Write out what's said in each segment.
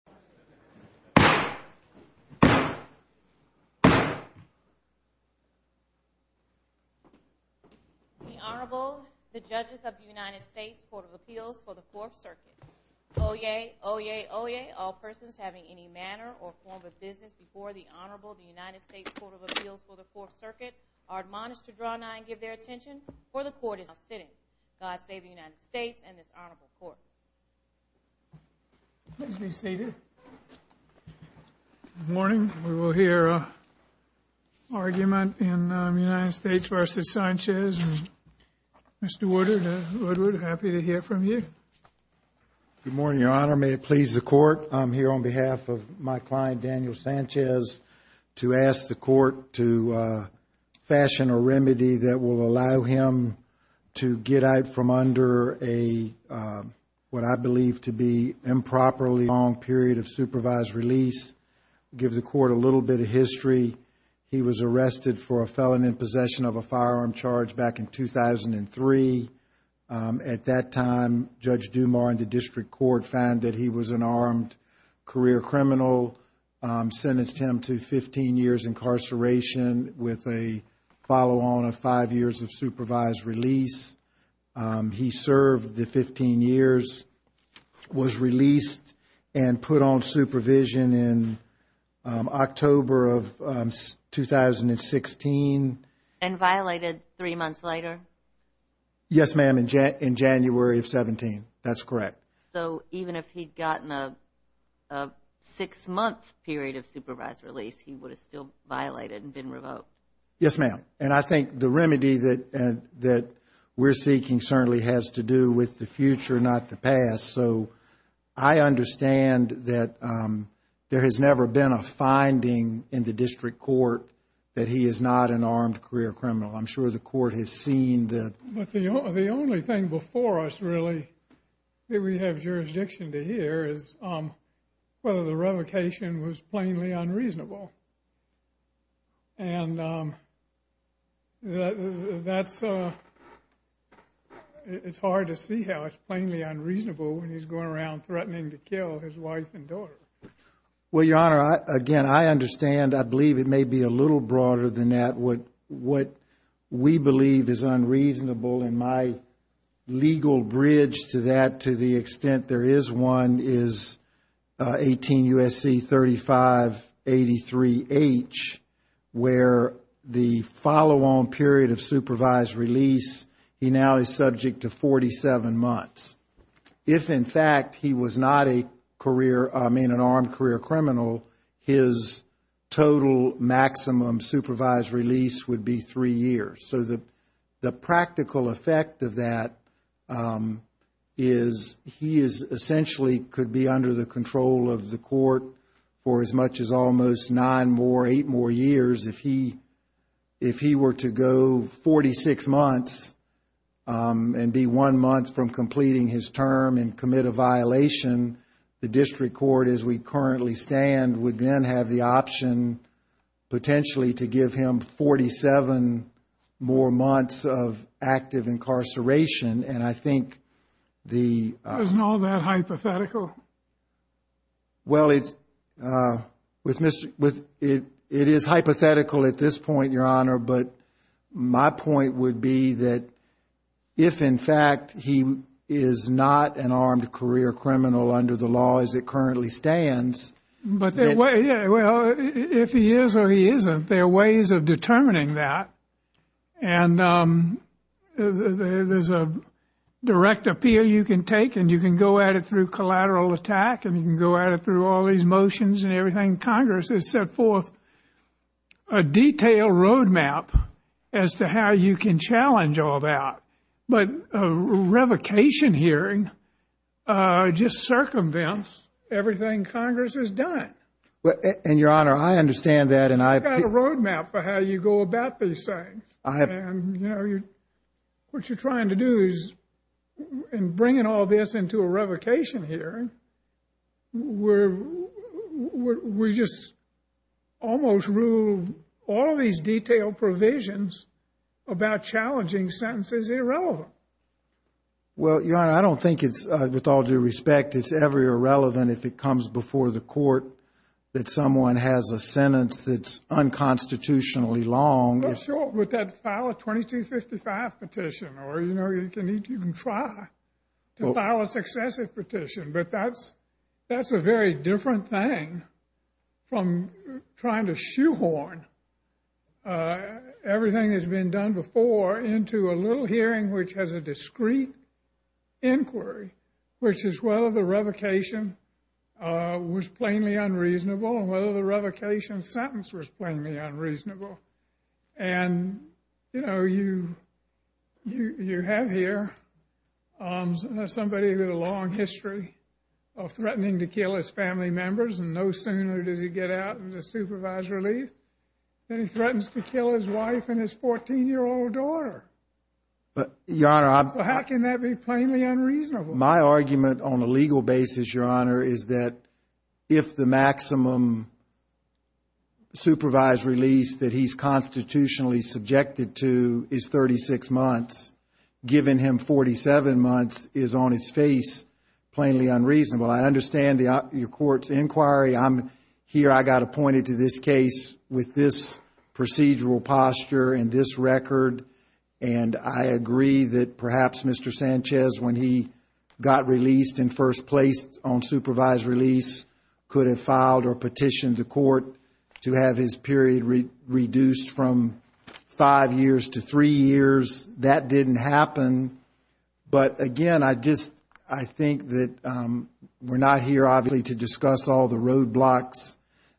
The Honorable, the Judges of the United States Court of Appeals for the Fourth Circuit. Oyez, oyez, oyez, all persons having any manner or form of business before the Honorable, the United States Court of Appeals for the Fourth Circuit, are admonished to draw nigh and give their attention, for the Court is now sitting. God save the United States and this Honorable Court. Please be seated. Good morning. We will hear an argument in United States v. Sanchez. Mr. Woodward, happy to hear from you. Good morning, Your Honor. May it please the Court, I'm here on behalf of my client, Daniel Sanchez, to ask the Court to fashion a remedy that will allow him to get out from under a, what I believe to be improperly long period of supervised release, give the Court a little bit of history. He was arrested for a felon in possession of a firearm charge back in 2003. At that time, Judge Dumar and the District Court found that he was an armed career criminal, sentenced him to 15 years incarceration with a follow-on of five years of supervised release. He served the 15 years, was released and put on supervision in October of 2016. And violated three months later? Yes, ma'am, in January of 17. That's correct. So even if he had gotten a six-month period of supervised release, he would have still violated and been revoked? Yes, ma'am. And I think the remedy that we're seeking certainly has to do with the future, not the past. So I understand that there has never been a finding in the District Court that he is not an armed career criminal. I'm sure the Court has seen that. But the only thing before us, really, that we have jurisdiction to hear is whether the revocation was plainly unreasonable. And that's hard to see how it's plainly unreasonable when he's going around threatening to kill his wife and daughter. Well, Your Honor, again, I understand. I believe it may be a little broader than that. What we believe is unreasonable, and my legal bridge to that to the extent there is one, is 18 U.S.C. 3583H, where the follow-on period of supervised release, he now is subject to 47 months. If, in fact, he was not an armed career criminal, his total maximum supervised release would be three years. So the practical effect of that is he essentially could be under the control of the court for as much as almost nine more, eight more years. If he were to go 46 months and be one month from completing his term and commit a violation, the district court, as we currently stand, would then have the option potentially to give him 47 more months of active incarceration. And I think the— Isn't all that hypothetical? Well, it is hypothetical at this point, Your Honor. But my point would be that if, in fact, he is not an armed career criminal under the law as it currently stands— Well, if he is or he isn't, there are ways of determining that. And there's a direct appeal you can take, and you can go at it through collateral attack, and you can go at it through all these motions and everything. Congress has set forth a detailed roadmap as to how you can challenge all that. But a revocation hearing just circumvents everything Congress has done. And, Your Honor, I understand that, and I— You've got a roadmap for how you go about these things. And, you know, what you're trying to do is, in bringing all this into a revocation hearing, we just almost ruled all these detailed provisions about challenging sentences irrelevant. Well, Your Honor, I don't think it's—with all due respect, it's ever irrelevant if it comes before the court that someone has a sentence that's unconstitutionally long. Well, sure, with that file of 2255 petition. Or, you know, you can try to file a successive petition. But that's a very different thing from trying to shoehorn everything that's been done before into a little hearing which has a discrete inquiry, which is whether the revocation was plainly unreasonable and whether the revocation sentence was plainly unreasonable. And, you know, you have here somebody with a long history of threatening to kill his family members, and no sooner does he get out of the supervised relief than he threatens to kill his wife and his 14-year-old daughter. But, Your Honor, I— How can that be plainly unreasonable? My argument on a legal basis, Your Honor, is that if the maximum supervised release that he's constitutionally subjected to is 36 months, giving him 47 months is, on its face, plainly unreasonable. I understand your court's inquiry. Here I got appointed to this case with this procedural posture and this record. And I agree that perhaps Mr. Sanchez, when he got released in first place on supervised release, could have filed or petitioned the court to have his period reduced from five years to three years. That didn't happen. But, again, I just—I think that we're not here, obviously, to discuss all the roadblocks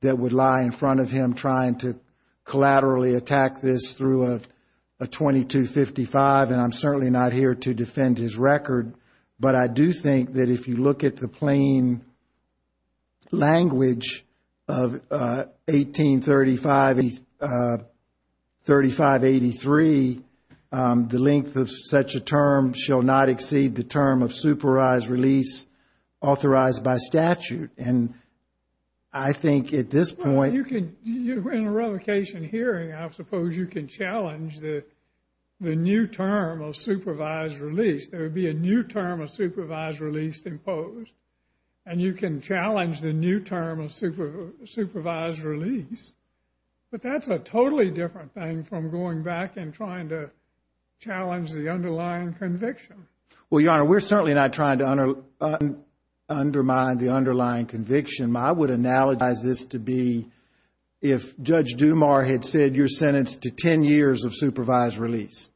that would lie in front of him trying to collaterally attack this through a 2255, and I'm certainly not here to defend his record. But I do think that if you look at the plain language of 1835—3583, the length of such a term shall not exceed the term of supervised release authorized by statute. And I think at this point— Well, you can—in a revocation hearing, I suppose you can challenge the new term of supervised release. There would be a new term of supervised release imposed. And you can challenge the new term of supervised release. But that's a totally different thing from going back and trying to challenge the underlying conviction. Well, Your Honor, we're certainly not trying to undermine the underlying conviction. I would analogize this to be if Judge Dumas had said you're sentenced to 10 years of supervised release,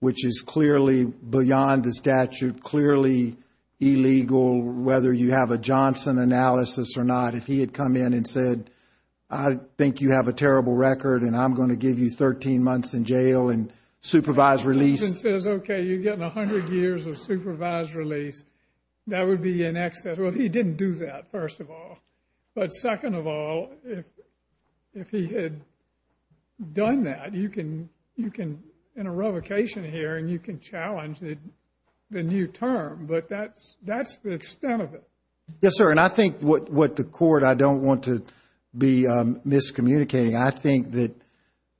which is clearly beyond the statute, clearly illegal, whether you have a Johnson analysis or not. If he had come in and said, I think you have a terrible record, and I'm going to give you 13 months in jail and supervised release— 10 years of supervised release, that would be an excess. Well, he didn't do that, first of all. But second of all, if he had done that, you can—in a revocation hearing, you can challenge the new term. But that's the extent of it. Yes, sir. And I think what the Court—I don't want to be miscommunicating. I think that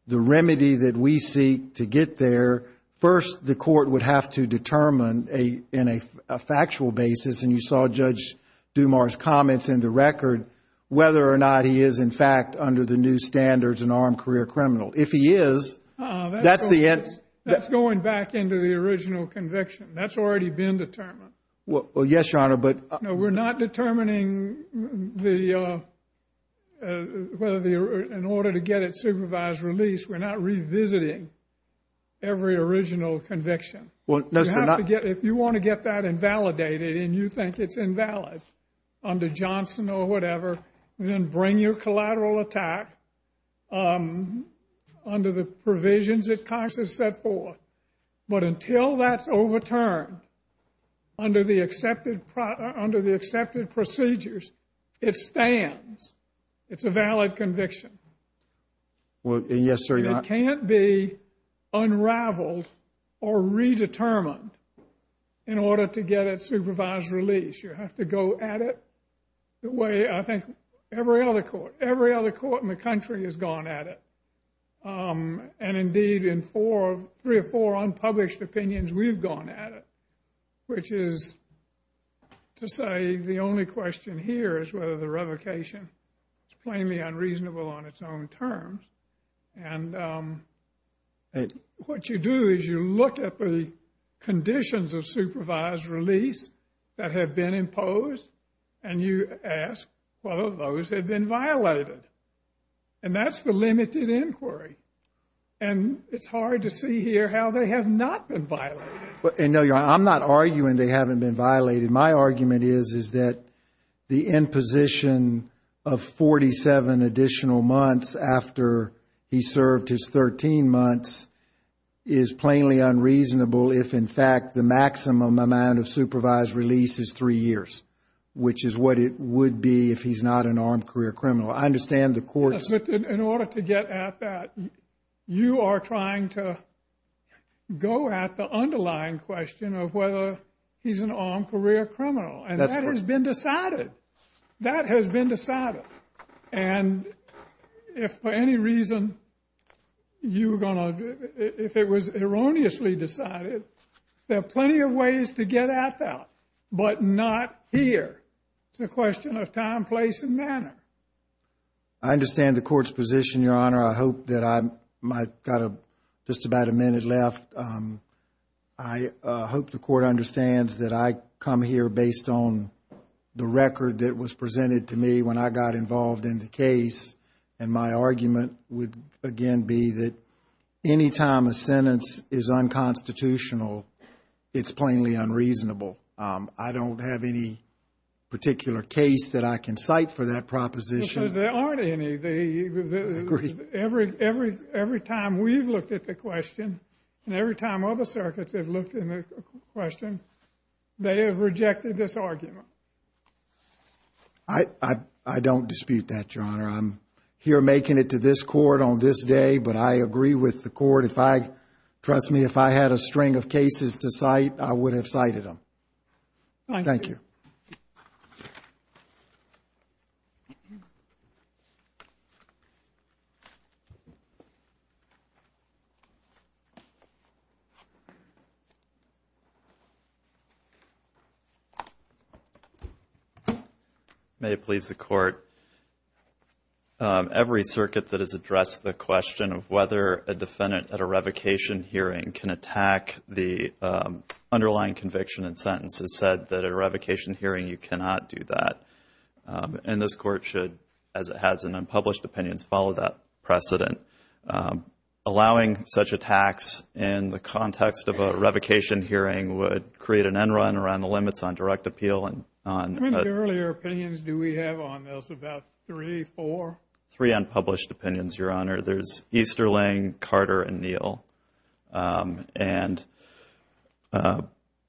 the remedy that we seek to get there, first the Court would have to determine in a factual basis, and you saw Judge Dumas' comments in the record, whether or not he is in fact under the new standards an armed career criminal. If he is, that's the end— That's going back into the original conviction. That's already been determined. Well, yes, Your Honor, but— No, we're not determining whether the—in order to get it supervised release, we're not revisiting every original conviction. Well, no, sir, not— You have to get—if you want to get that invalidated, and you think it's invalid under Johnson or whatever, then bring your collateral attack under the provisions that Cox has set forth. But until that's overturned under the accepted procedures, it stands. It's a valid conviction. Yes, sir, Your Honor. It can't be unraveled or redetermined in order to get it supervised release. You have to go at it the way I think every other court, every other court in the country has gone at it. And indeed, in three or four unpublished opinions, we've gone at it, which is to say the only question here is whether the revocation is plainly unreasonable on its own terms. And what you do is you look at the conditions of supervised release that have been imposed, and you ask whether those have been violated. And that's the limited inquiry. And it's hard to see here how they have not been violated. And, no, Your Honor, I'm not arguing they haven't been violated. My argument is that the imposition of 47 additional months after he served his 13 months is plainly unreasonable if, in fact, the maximum amount of supervised release is three years, which is what it would be if he's not an armed career criminal. I understand the courts... In order to get at that, you are trying to go at the underlying question of whether he's an armed career criminal. And that has been decided. That has been decided. And if for any reason you were going to, if it was erroneously decided, there are plenty of ways to get at that, but not here. It's a question of time, place, and manner. I understand the court's position, Your Honor. I hope that I've got just about a minute left. I hope the court understands that I come here based on the record that was presented to me when I got involved in the case. And my argument would, again, be that any time a sentence is unconstitutional, it's plainly unreasonable. I don't have any particular case that I can cite for that proposition. Because there aren't any. I agree. Every time we've looked at the question and every time other circuits have looked at the question, they have rejected this argument. I don't dispute that, Your Honor. I'm here making it to this court on this day, but I agree with the court. Trust me, if I had a string of cases to cite, I would have cited them. Thank you. Every circuit that has addressed the question of whether a defendant at a revocation hearing can attack the underlying conviction and sentence has said that a revocation hearing, you cannot do that. And this court should, as it has in unpublished opinions, follow that precedent. Allowing such attacks in the context of a revocation hearing would create an end run around the limits on direct appeal. How many earlier opinions do we have on this? About three, four? Three unpublished opinions, Your Honor. There's Easterling, Carter, and Neal. And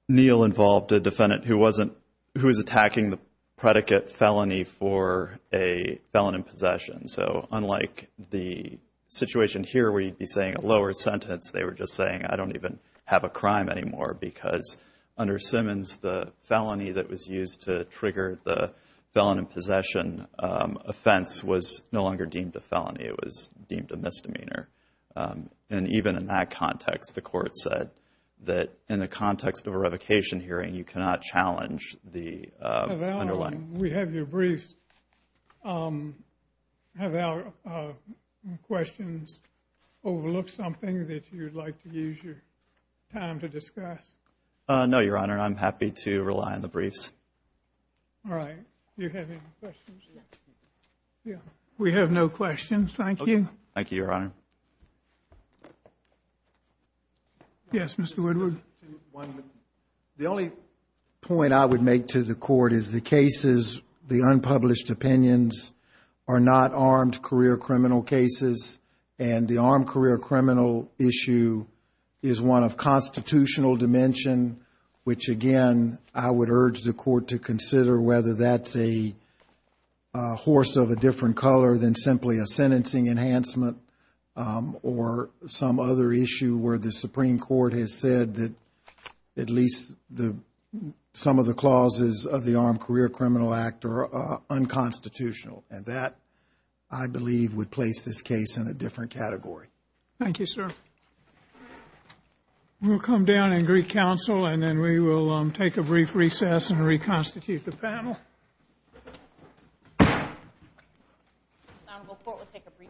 Neal involved a defendant who was attacking the predicate felony for a felon in possession. So unlike the situation here where you'd be saying a lower sentence, they were just saying, I don't even have a crime anymore. Because under Simmons, the felony that was used to trigger the felon in possession offense was no longer deemed a felony. It was deemed a misdemeanor. And even in that context, the court said that in the context of a revocation hearing, you cannot challenge the underlying. We have your briefs. Have our questions overlooked something that you'd like to use your time to discuss? No, Your Honor. I'm happy to rely on the briefs. All right. Do you have any questions? We have no questions. Thank you. Thank you, Your Honor. Yes, Mr. Woodward. The only point I would make to the court is the cases, the unpublished opinions, are not armed career criminal cases. And the armed career criminal issue is one of constitutional dimension, which again I would urge the court to consider whether that's a horse of a different color than simply a sentencing enhancement or some other issue where the Supreme Court has said that at least some of the clauses of the Armed Career Criminal Act are unconstitutional. And that, I believe, would place this case in a different category. Thank you, sir. We'll come down and greet counsel, and then we will take a brief recess and reconstitute the panel. The Honorable Court will take a brief recess.